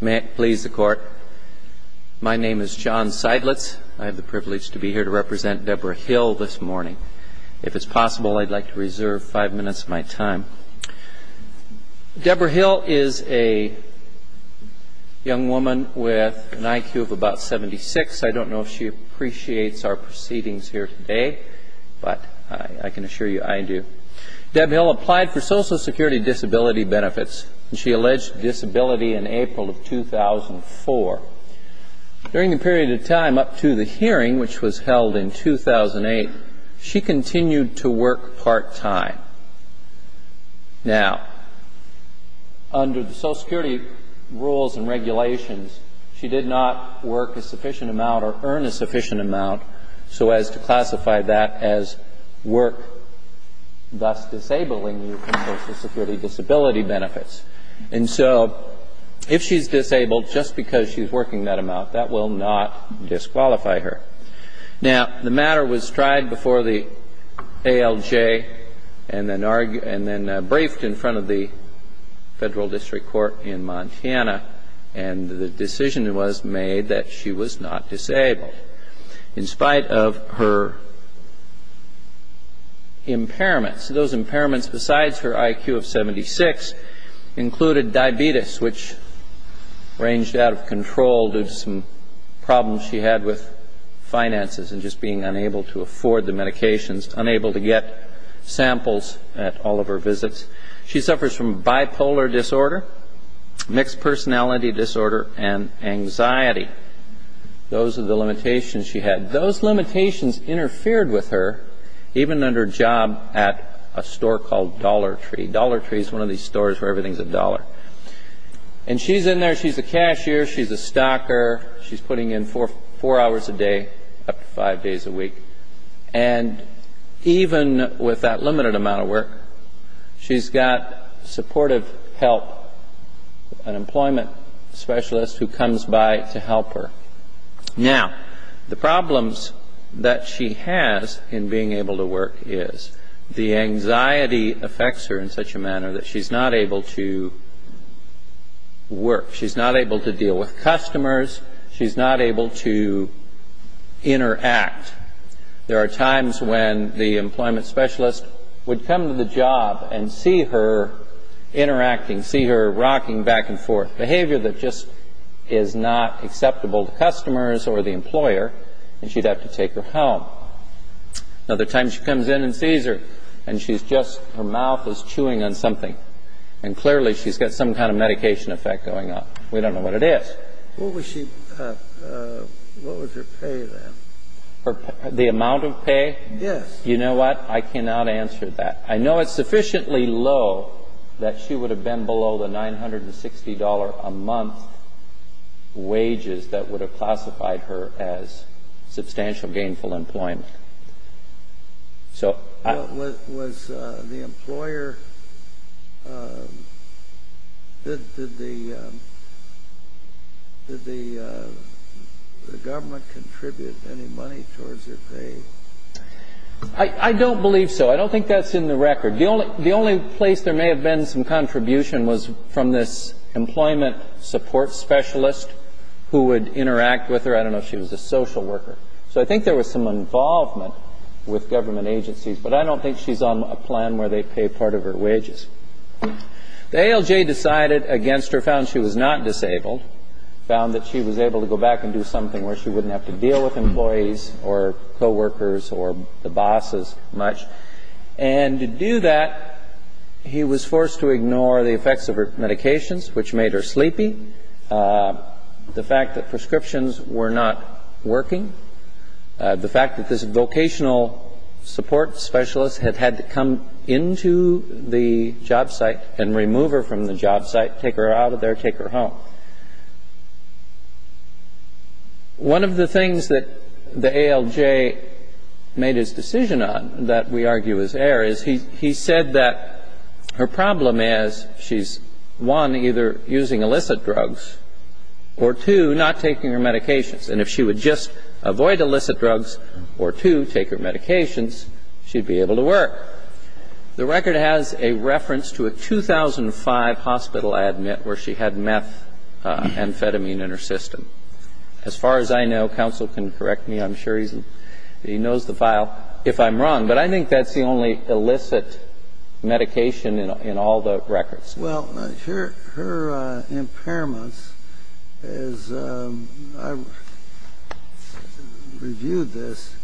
May it please the court. My name is John Seidlitz. I have the privilege to be here to represent Deborah Hill this morning. If it's possible, I'd like to reserve five minutes of my time. Deborah Hill is a young woman with an IQ of about 76. I don't know if she appreciates our proceedings here today, but I can assure you I do. Deborah Hill applied for Social Security disability benefits, and she alleged disability in April of 2004. During the period of time up to the hearing, which was held in 2008, she continued to work part-time. Now, under the Social Security rules and regulations, she did not work a sufficient amount or earn a sufficient amount, so as to classify that as work, thus disabling you from Social Security disability benefits. And so if she's disabled just because she's working that amount, that will not disqualify her. Now, the matter was tried before the ALJ and then briefed in front of the federal district court in Montana, and the decision was made that she was not disabled in spite of her impairments. Those impairments, besides her IQ of 76, included diabetes, which ranged out of control due to some problems she had with finances and just being unable to afford the medications, unable to get samples at all of her visits. She suffers from bipolar disorder, mixed personality disorder, and anxiety. Those are the limitations she had. Those limitations interfered with her, even on her job at a store called Dollar Tree. Dollar Tree is one of these stores where everything's a dollar. And she's in there. She's a cashier. She's a stocker. She's putting in four hours a day, up to five days a week. And even with that limited amount of work, she's got supportive help, an employment specialist who comes by to help her. Now, the problems that she has in being able to work is the anxiety affects her in such a manner that she's not able to work. She's not able to deal with customers. She's not able to interact. There are times when the employment specialist would come to the job and see her interacting, see her rocking back and forth, behavior that just is not acceptable to customers or the employer, and she'd have to take her home. Another time she comes in and sees her, and she's just, her mouth is chewing on something. And clearly she's got some kind of medication effect going on. We don't know what it is. What was her pay then? The amount of pay? Yes. You know what? I cannot answer that. I know it's sufficiently low that she would have been below the $960 a month wages that would have classified her as substantial gainful employment. Was the employer, did the government contribute any money towards her pay? I don't believe so. I don't think that's in the record. The only place there may have been some contribution was from this employment support specialist who would interact with her. I don't know if she was a social worker. So I think there was some involvement with government agencies, but I don't think she's on a plan where they pay part of her wages. The ALJ decided against her, found she was not disabled, found that she was able to go back and do something where she wouldn't have to deal with employees or coworkers or the bosses much. And to do that, he was forced to ignore the effects of her medications, which made her sleepy, the fact that prescriptions were not working, the fact that this vocational support specialist had had to come into the job site and remove her from the job site, take her out of there, take her home. One of the things that the ALJ made his decision on, that we argue is air, is he said that her problem is she's, one, either using illicit drugs or, two, not taking her medications. And if she would just avoid illicit drugs or, two, take her medications, she'd be able to work. The record has a reference to a 2005 hospital, I admit, where she had methamphetamine in her system. As far as I know, counsel can correct me. I'm sure he knows the file if I'm wrong. But I think that's the only illicit medication in all the records. Well, her impairments, as I reviewed this,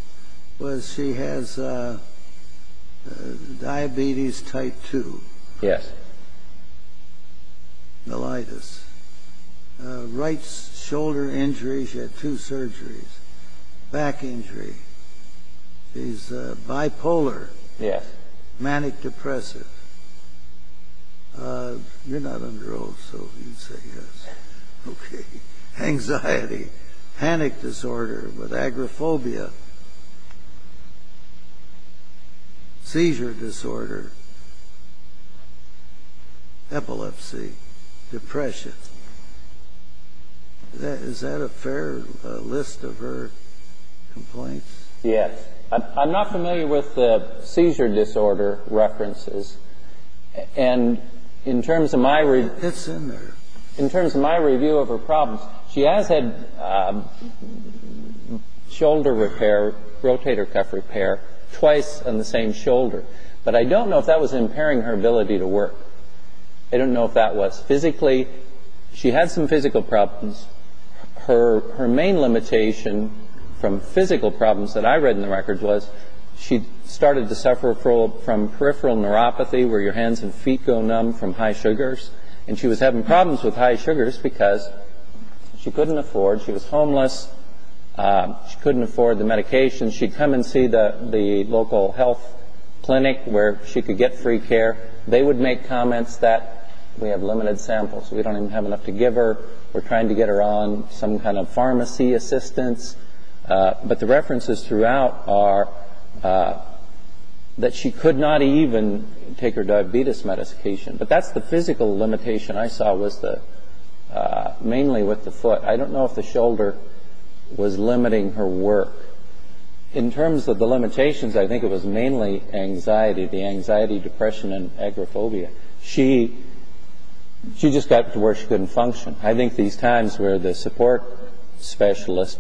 was she has diabetes type 2. Yes. Melitis. Right shoulder injury. She had two surgeries. Back injury. She's bipolar. Yes. Manic depressive. You're not under oath, so you'd say yes. Okay. Anxiety. Panic disorder with agoraphobia. Seizure disorder. Epilepsy. Depression. Is that a fair list of her complaints? Yes. I'm not familiar with the seizure disorder references. And in terms of my review of her problems, she has had shoulder repair, rotator cuff repair, twice on the same shoulder. But I don't know if that was impairing her ability to work. I don't know if that was. Physically, she had some physical problems. Her main limitation from physical problems that I read in the records was she started to suffer from peripheral neuropathy, where your hands and feet go numb from high sugars. And she was having problems with high sugars because she couldn't afford. She was homeless. She couldn't afford the medication. She'd come and see the local health clinic where she could get free care. They would make comments that we have limited samples. We don't even have enough to give her. We're trying to get her on some kind of pharmacy assistance. But the references throughout are that she could not even take her diabetes medication. But that's the physical limitation I saw was mainly with the foot. I don't know if the shoulder was limiting her work. In terms of the limitations, I think it was mainly anxiety, the anxiety, depression, and agoraphobia. She just got to where she couldn't function. I think these times where the support specialist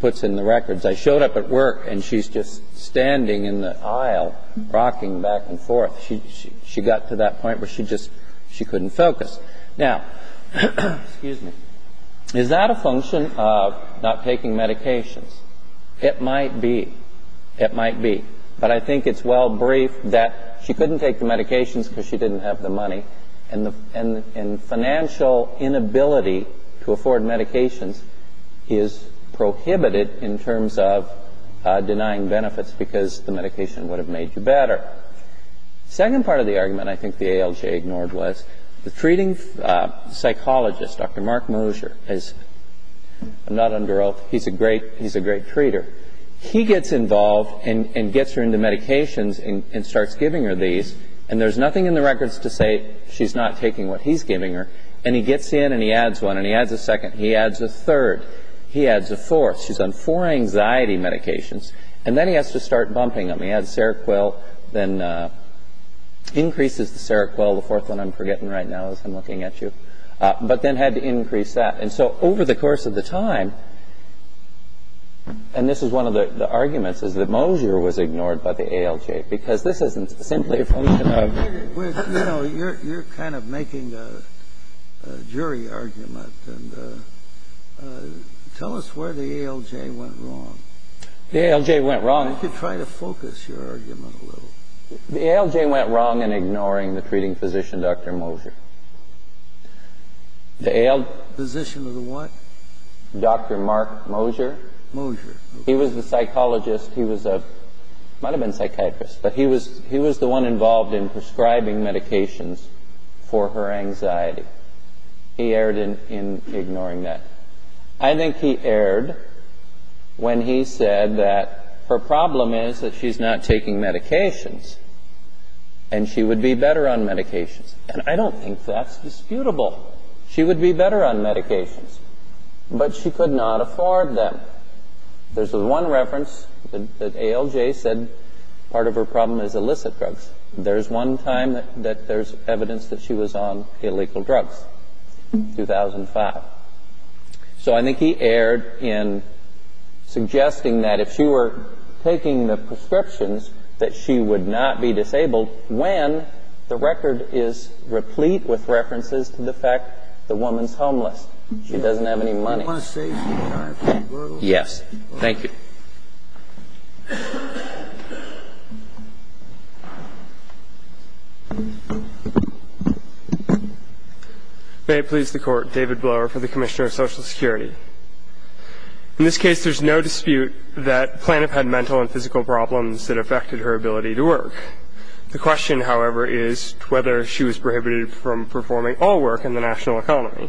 puts in the records, I showed up at work and she's just standing in the aisle rocking back and forth. She got to that point where she just couldn't focus. Now, is that a function of not taking medications? It might be. It might be. But I think it's well briefed that she couldn't take the medications because she didn't have the money. And financial inability to afford medications is prohibited in terms of denying benefits because the medication would have made you better. The second part of the argument I think the ALJ ignored was the treating psychologist, Dr. Mark Mosher. I'm not under oath. He's a great treater. He gets involved and gets her into medications and starts giving her these. And there's nothing in the records to say she's not taking what he's giving her. And he gets in and he adds one. And he adds a second. He adds a third. He adds a fourth. She's on four anxiety medications. And then he has to start bumping them. He adds Seroquel, then increases the Seroquel. The fourth one I'm forgetting right now as I'm looking at you. But then had to increase that. And so over the course of the time, and this is one of the arguments, is that Mosher was ignored by the ALJ because this isn't simply a function of... You're kind of making a jury argument. Tell us where the ALJ went wrong. The ALJ went wrong. You could try to focus your argument a little. The ALJ went wrong in ignoring the treating physician, Dr. Mosher. The ALJ... Physician of the what? Dr. Mark Mosher. Mosher. He was the psychologist. He might have been a psychiatrist, but he was the one involved in prescribing medications for her anxiety. He erred in ignoring that. I think he erred when he said that her problem is that she's not taking medications, and she would be better on medications. And I don't think that's disputable. She would be better on medications, but she could not afford them. There's one reference that ALJ said part of her problem is illicit drugs. There's one time that there's evidence that she was on illegal drugs, 2005. So I think he erred in suggesting that if she were taking the prescriptions, that she would not be disabled when the record is replete with references to the fact the woman's homeless. She doesn't have any money. Yes. Thank you. May it please the Court. David Blower for the Commissioner of Social Security. In this case, there's no dispute that Plano had mental and physical problems that affected her ability to work. The question, however, is whether she was prohibited from performing all work in the national economy.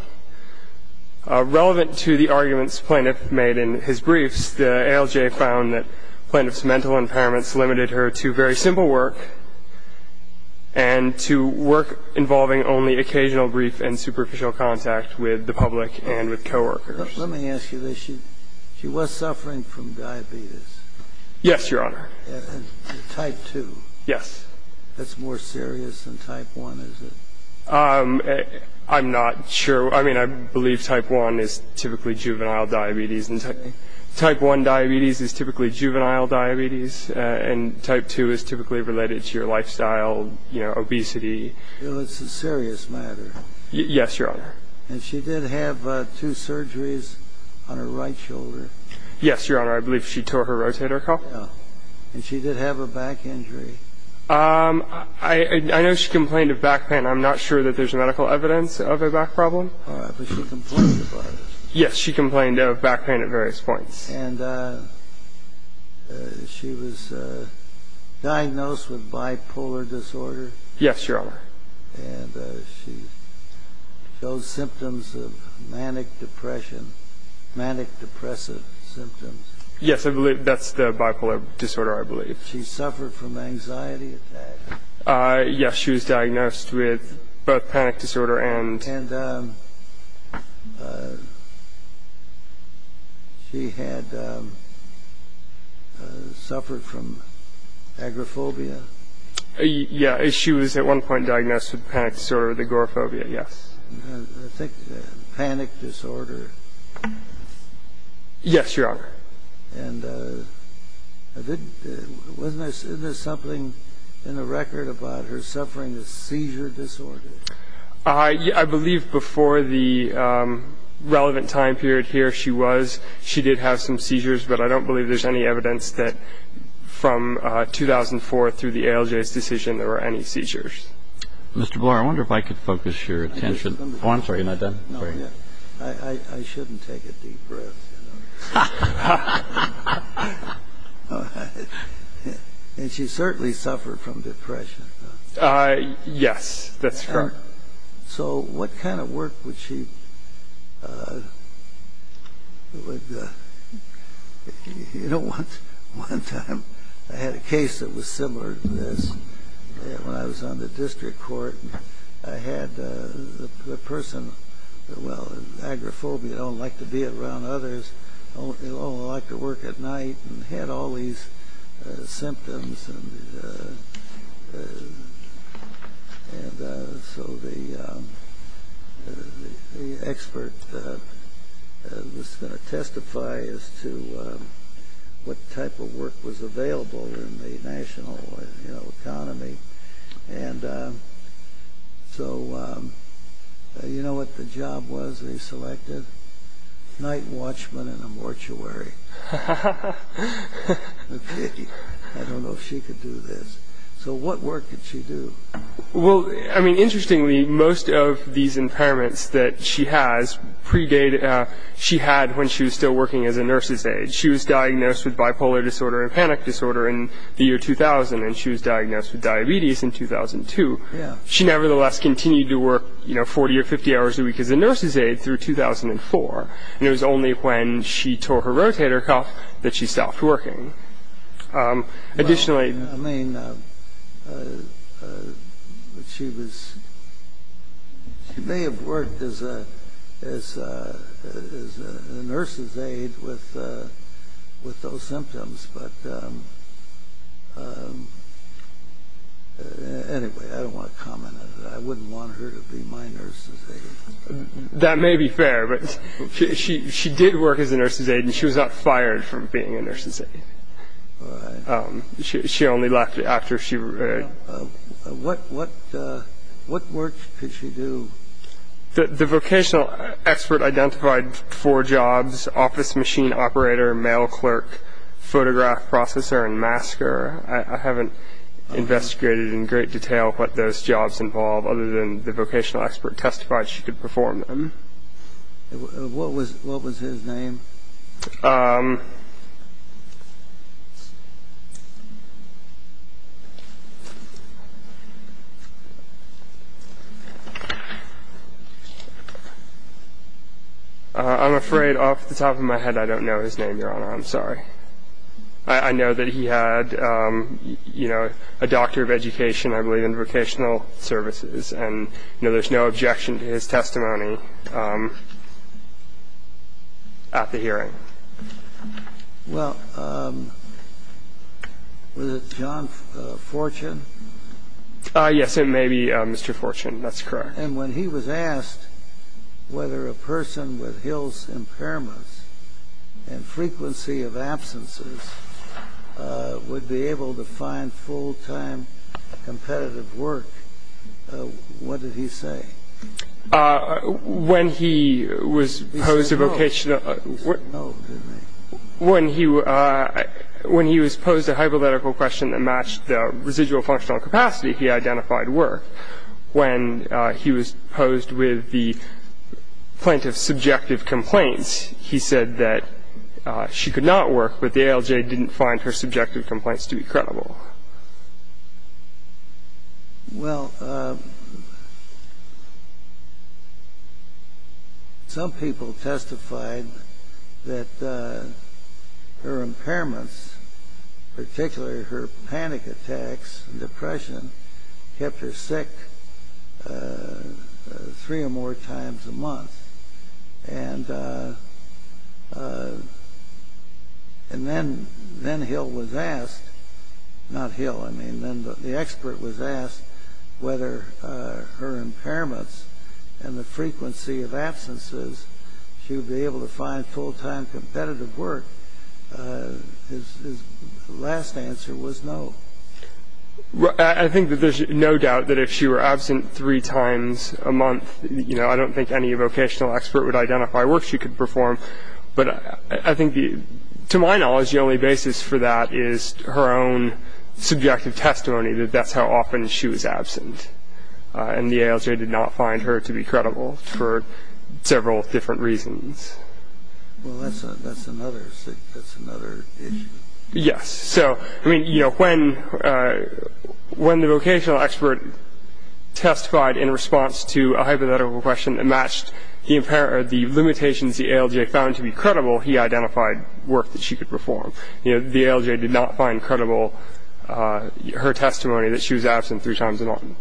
Relevant to the arguments Plano made in his briefs, the ALJ found that Plano's mental impairments limited her to very simple work and to work involving only occasional brief and superficial contact with the public and with coworkers. Let me ask you this. She was suffering from diabetes. Yes, Your Honor. Type 2. Yes. That's more serious than type 1, is it? I'm not sure. I mean, I believe type 1 is typically juvenile diabetes. Type 1 diabetes is typically juvenile diabetes, and type 2 is typically related to your lifestyle, obesity. Well, it's a serious matter. Yes, Your Honor. And she did have two surgeries on her right shoulder. Yes, Your Honor. I believe she tore her rotator cuff. And she did have a back injury. I know she complained of back pain. I'm not sure that there's medical evidence of a back problem. But she complained about it. Yes, she complained of back pain at various points. And she was diagnosed with bipolar disorder. Yes, Your Honor. And she showed symptoms of manic depression, manic depressive symptoms. Yes, I believe that's the bipolar disorder, I believe. She suffered from anxiety attacks. Yes, she was diagnosed with both panic disorder and... And she had suffered from agoraphobia. Yes, she was at one point diagnosed with panic disorder, the agoraphobia, yes. I think panic disorder. Yes, Your Honor. And wasn't there something in the record about her suffering a seizure disorder? I believe before the relevant time period here she was, she did have some seizures. But I don't believe there's any evidence that from 2004 through the ALJ's decision there were any seizures. Mr. Blore, I wonder if I could focus your attention. Oh, I'm sorry, you're not done? No, I shouldn't take a deep breath. And she certainly suffered from depression. Yes, that's correct. So what kind of work would she... You know, one time I had a case that was similar to this. When I was on the district court, I had the person... Well, agoraphobia, I don't like to be around others. I don't like to work at night and had all these symptoms. And so the expert was going to testify as to what type of work was available in the national economy. And so you know what the job was they selected? Night watchman in a mortuary. Okay, I don't know if she could do this. So what work did she do? Well, I mean, interestingly, most of these impairments that she has predate... she had when she was still working as a nurse's aide. She was diagnosed with bipolar disorder and panic disorder in the year 2000. And she was diagnosed with diabetes in 2002. She nevertheless continued to work, you know, 40 or 50 hours a week as a nurse's aide through 2004. And it was only when she tore her rotator cuff that she stopped working. Additionally... I mean, she may have worked as a nurse's aide with those symptoms. But anyway, I don't want to comment on it. I wouldn't want her to be my nurse's aide. That may be fair, but she did work as a nurse's aide, and she was not fired from being a nurse's aide. She only left after she... What work could she do? The vocational expert identified four jobs, office machine operator, mail clerk, photograph processor, and masker. I haven't investigated in great detail what those jobs involve, other than the vocational expert testified she could perform them. What was his name? I'm afraid off the top of my head I don't know his name, Your Honor. I'm sorry. I know that he had, you know, a doctor of education, I believe, in vocational services. And, you know, there's no objection to his testimony at the hearing. Well, was it John Fortune? Yes, it may be Mr. Fortune. That's correct. And when he was asked whether a person with Hill's impairments and frequency of absences would be able to find full-time competitive work, what did he say? When he was posed a vocational... He said no. He said no to me. When he was posed a hypothetical question that matched the residual functional capacity, he identified work. When he was posed with the plaintiff's subjective complaints, he said that she could not work but the ALJ didn't find her subjective complaints to be credible. Well, some people testified that her impairments, particularly her panic attacks and depression, kept her sick three or more times a month. And then Hill was asked, not Hill, I mean, then the expert was asked whether her impairments and the frequency of absences, she would be able to find full-time competitive work. His last answer was no. I think that there's no doubt that if she were absent three times a month, you know, I don't think any vocational expert would identify work she could perform. But I think, to my knowledge, the only basis for that is her own subjective testimony that that's how often she was absent. And the ALJ did not find her to be credible for several different reasons. Well, that's another issue. Yes. So, I mean, you know, when the vocational expert testified in response to a hypothetical question that matched the limitations the ALJ found to be credible, he identified work that she could perform. You know, the ALJ did not find credible her testimony that she was absent three times a month.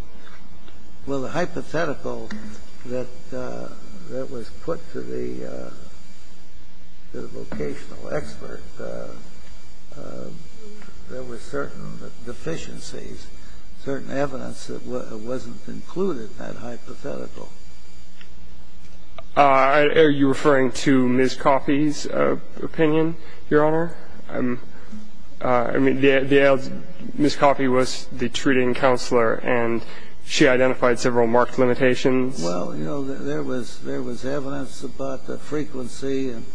Well, the hypothetical that was put to the vocational expert, there were certain deficiencies, certain evidence that wasn't included in that hypothetical. Are you referring to Ms. Coffey's opinion, Your Honor? I mean, Ms. Coffey was the treating counselor, and she identified several marked limitations. Well, you know, there was evidence about the frequency and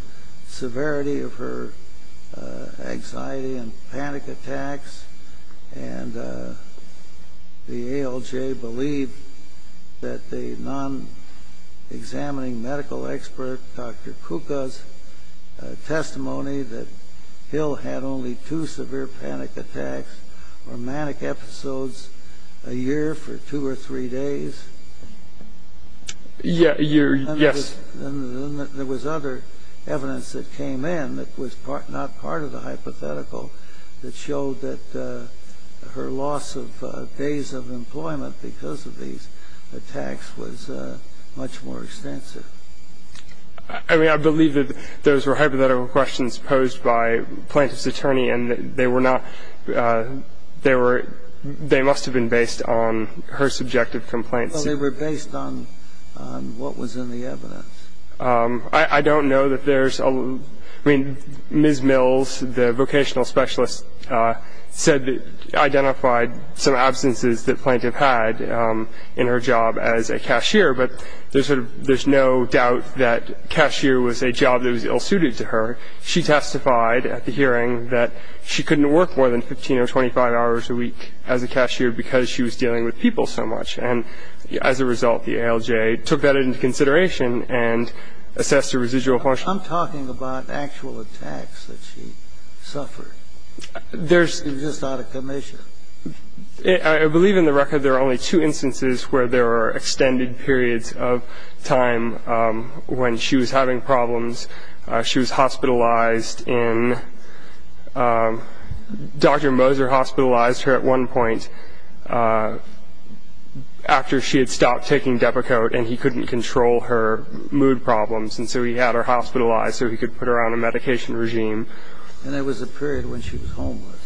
severity of her anxiety and panic attacks. And the ALJ believed that the non-examining medical expert, Dr. Kuka's testimony, that Hill had only two severe panic attacks or manic episodes a year for two or three days. A year, yes. And there was other evidence that came in that was not part of the hypothetical that showed that her loss of days of employment because of these attacks was much more extensive. I mean, I believe that those were hypothetical questions posed by Plaintiff's attorney, and they were not — they were — they must have been based on her subjective complaints. Well, they were based on what was in the evidence. I don't know that there's — I mean, Ms. Mills, the vocational specialist, said that — identified some absences that Plaintiff had in her job as a cashier, but there's sort of — there's no doubt that cashier was a job that was ill-suited to her. She testified at the hearing that she couldn't work more than 15 or 25 hours a week as a cashier because she was dealing with people so much. And as a result, the ALJ took that into consideration and assessed her residual functions. I'm talking about actual attacks that she suffered. There's — It was just out of commission. I believe in the record there are only two instances where there were extended periods of time when she was having problems. She was hospitalized in — Dr. Moser hospitalized her at one point after she had stopped taking Depakote and he couldn't control her mood problems, and so he had her hospitalized so he could put her on a medication regime. And there was a period when she was homeless.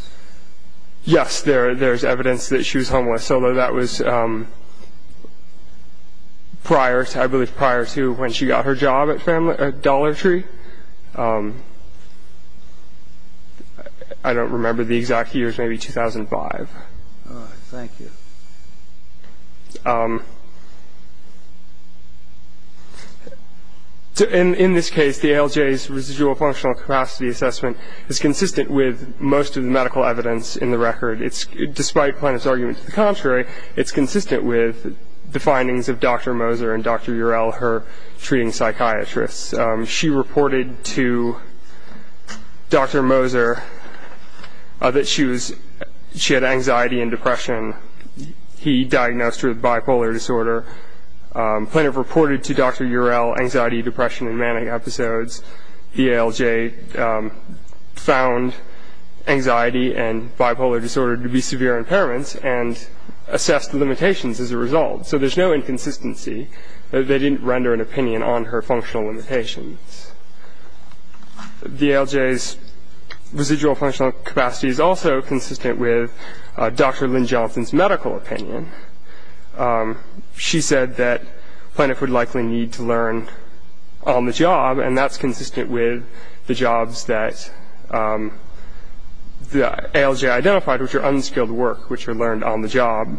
Yes, there's evidence that she was homeless, although that was prior to — I believe prior to when she got her job at Dollar Tree. I don't remember the exact years, maybe 2005. All right. Thank you. In this case, the ALJ's residual functional capacity assessment is consistent with most of the medical evidence in the record. Despite Planoff's argument to the contrary, it's consistent with the findings of Dr. Moser and Dr. Urel, her treating psychiatrists. She reported to Dr. Moser that she had anxiety and depression. He diagnosed her with bipolar disorder. Planoff reported to Dr. Urel anxiety, depression, and manic episodes. The ALJ found anxiety and bipolar disorder to be severe impairments and assessed the limitations as a result. So there's no inconsistency that they didn't render an opinion on her functional limitations. The ALJ's residual functional capacity is also consistent with Dr. Lynn Johnson's medical opinion. She said that Planoff would likely need to learn on the job, and that's consistent with the jobs that the ALJ identified, which are unskilled work, which are learned on the job.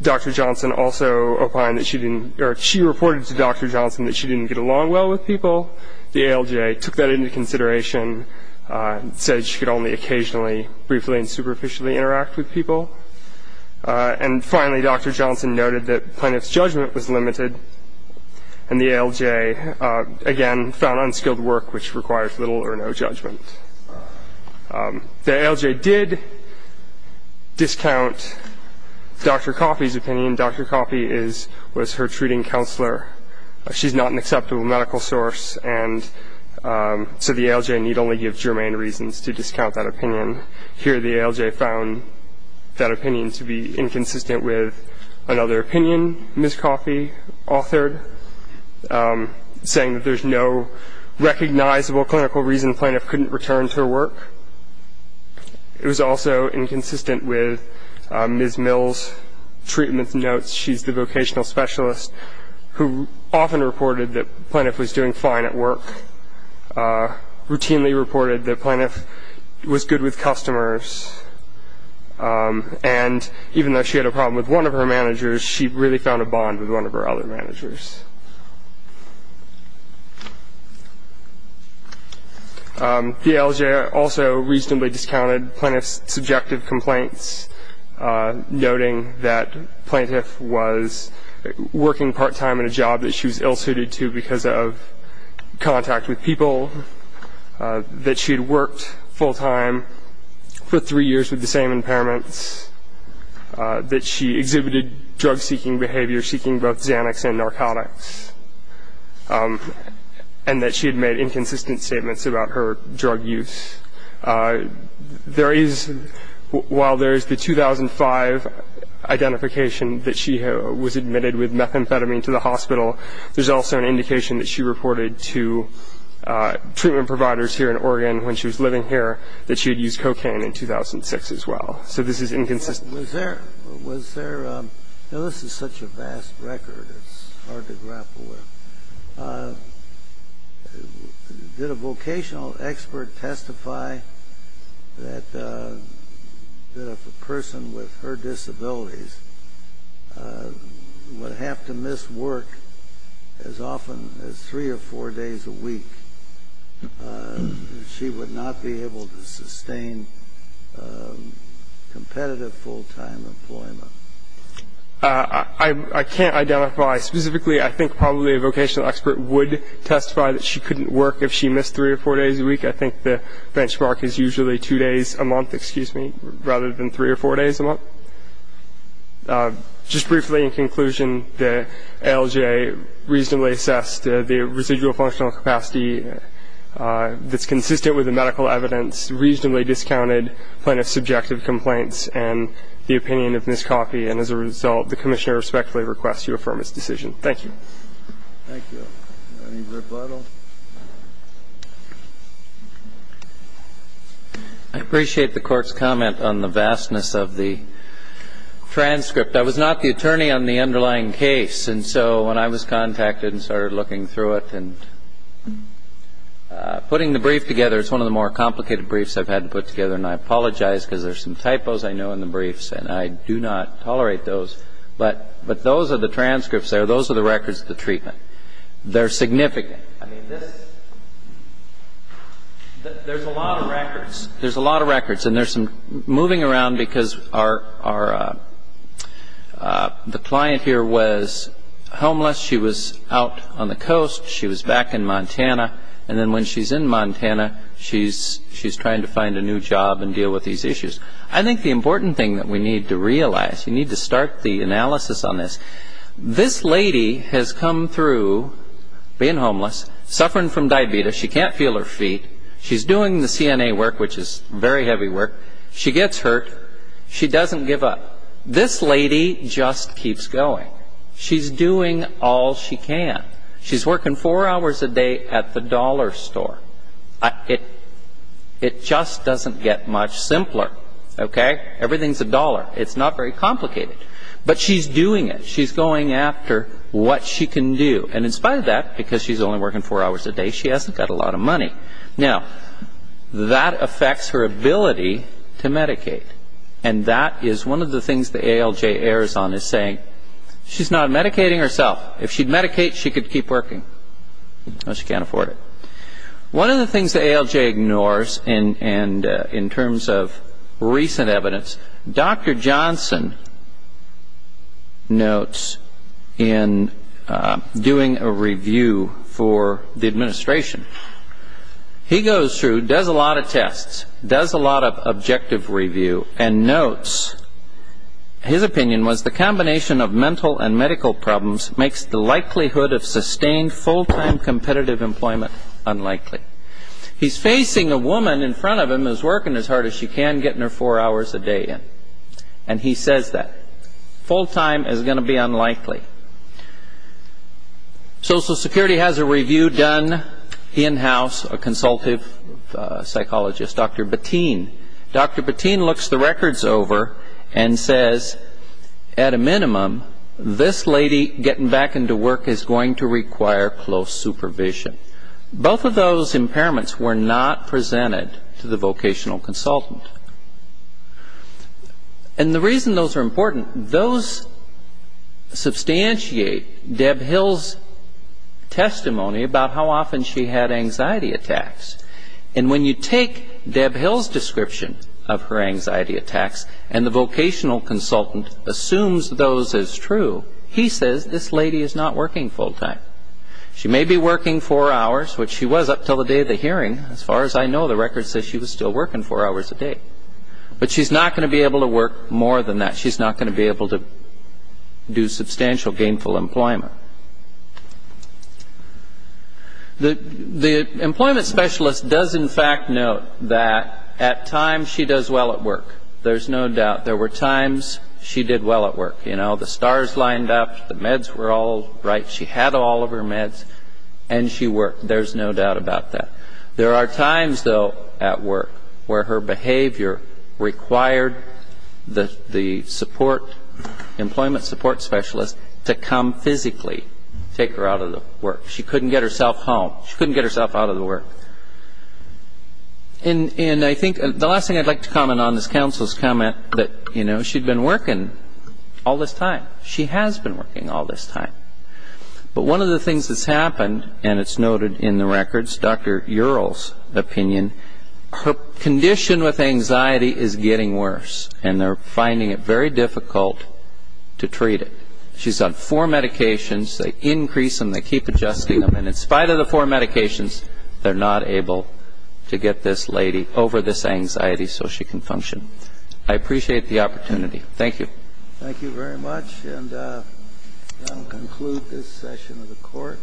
Dr. Johnson also opined that she didn't — or she reported to Dr. Johnson that she didn't get along well with people. The ALJ took that into consideration and said she could only occasionally, briefly, and superficially interact with people. And finally, Dr. Johnson noted that Planoff's judgment was limited, and the ALJ, again, found unskilled work, which requires little or no judgment. The ALJ did discount Dr. Coffey's opinion. Dr. Coffey was her treating counselor. She's not an acceptable medical source, and so the ALJ need only give germane reasons to discount that opinion. Here, the ALJ found that opinion to be inconsistent with another opinion Ms. Coffey authored, saying that there's no recognizable clinical reason Planoff couldn't return to her work. It was also inconsistent with Ms. Mill's treatment notes. She's the vocational specialist who often reported that Planoff was doing fine at work, routinely reported that Planoff was good with customers, and even though she had a problem with one of her managers, she really found a bond with one of her other managers. The ALJ also reasonably discounted Planoff's subjective complaints, noting that Planoff was working part-time in a job that she was ill-suited to because of contact with people, that she had worked full-time for three years with the same impairments, that she exhibited drug-seeking behavior, seeking both Xanax and narcotics, and that she had made inconsistent statements about her drug use. While there is the 2005 identification that she was admitted with methamphetamine to the hospital, there's also an indication that she reported to treatment providers here in Oregon when she was living here that she had used cocaine in 2006 as well. So this is inconsistent. Was there – this is such a vast record, it's hard to grapple with. Did a vocational expert testify that if a person with her disabilities would have to miss work as often as three or four days a week, she would not be able to sustain competitive full-time employment? I can't identify. Specifically, I think probably a vocational expert would testify that she couldn't work if she missed three or four days a week. I think the benchmark is usually two days a month, excuse me, rather than three or four days a month. So just briefly in conclusion, the ALJ reasonably assessed the residual functional capacity that's consistent with the medical evidence, reasonably discounted plaintiff's subjective complaints and the opinion of Ms. Coffey. And as a result, the Commissioner respectfully requests you affirm its decision. Thank you. Thank you. Any rebuttal? I appreciate the Court's comment on the vastness of the transcript. I was not the attorney on the underlying case. And so when I was contacted and started looking through it and putting the brief together, it's one of the more complicated briefs I've had to put together, and I apologize because there's some typos I know in the briefs, and I do not tolerate those. But those are the transcripts there. Those are the records of the treatment. They're significant. I mean, there's a lot of records. There's a lot of records. And there's some moving around because the client here was homeless. She was out on the coast. She was back in Montana. And then when she's in Montana, she's trying to find a new job and deal with these issues. I think the important thing that we need to realize, you need to start the analysis on this. This lady has come through being homeless, suffering from diabetes. She can't feel her feet. She's doing the CNA work, which is very heavy work. She gets hurt. She doesn't give up. This lady just keeps going. She's doing all she can. She's working four hours a day at the dollar store. It just doesn't get much simpler. Okay? Everything's a dollar. It's not very complicated. But she's doing it. She's going after what she can do. And in spite of that, because she's only working four hours a day, she hasn't got a lot of money. Now, that affects her ability to medicate. And that is one of the things the ALJ errs on, is saying she's not medicating herself. If she'd medicate, she could keep working. No, she can't afford it. One of the things the ALJ ignores, and in terms of recent evidence, Dr. Johnson notes in doing a review for the administration, he goes through, does a lot of tests, does a lot of objective review, and notes his opinion was, the combination of mental and medical problems makes the likelihood of sustained full-time competitive employment unlikely. He's facing a woman in front of him who's working as hard as she can, getting her four hours a day in. And he says that. Full-time is going to be unlikely. Social Security has a review done in-house, a consultive psychologist, Dr. Bettine. Dr. Bettine looks the records over and says, at a minimum, this lady getting back into work is going to require close supervision. Both of those impairments were not presented to the vocational consultant. And the reason those are important, those substantiate Deb Hill's testimony about how often she had anxiety attacks. And when you take Deb Hill's description of her anxiety attacks, and the vocational consultant assumes those as true, he says this lady is not working full-time. She may be working four hours, which she was up until the day of the hearing. As far as I know, the record says she was still working four hours a day. But she's not going to be able to work more than that. She's not going to be able to do substantial gainful employment. The employment specialist does, in fact, note that at times she does well at work. There's no doubt. There were times she did well at work. You know, the stars lined up, the meds were all right. She had all of her meds, and she worked. There's no doubt about that. There are times, though, at work where her behavior required the support, employment support specialist, to come physically take her out of the work. She couldn't get herself home. She couldn't get herself out of the work. And I think the last thing I'd like to comment on is counsel's comment that, you know, she'd been working all this time. She has been working all this time. But one of the things that's happened, and it's noted in the records, Dr. Ural's opinion, her condition with anxiety is getting worse, and they're finding it very difficult to treat it. She's on four medications. They increase them. They keep adjusting them. And in spite of the four medications, they're not able to get this lady over this anxiety so she can function. I appreciate the opportunity. Thank you. Thank you very much. And that will conclude this session of the court.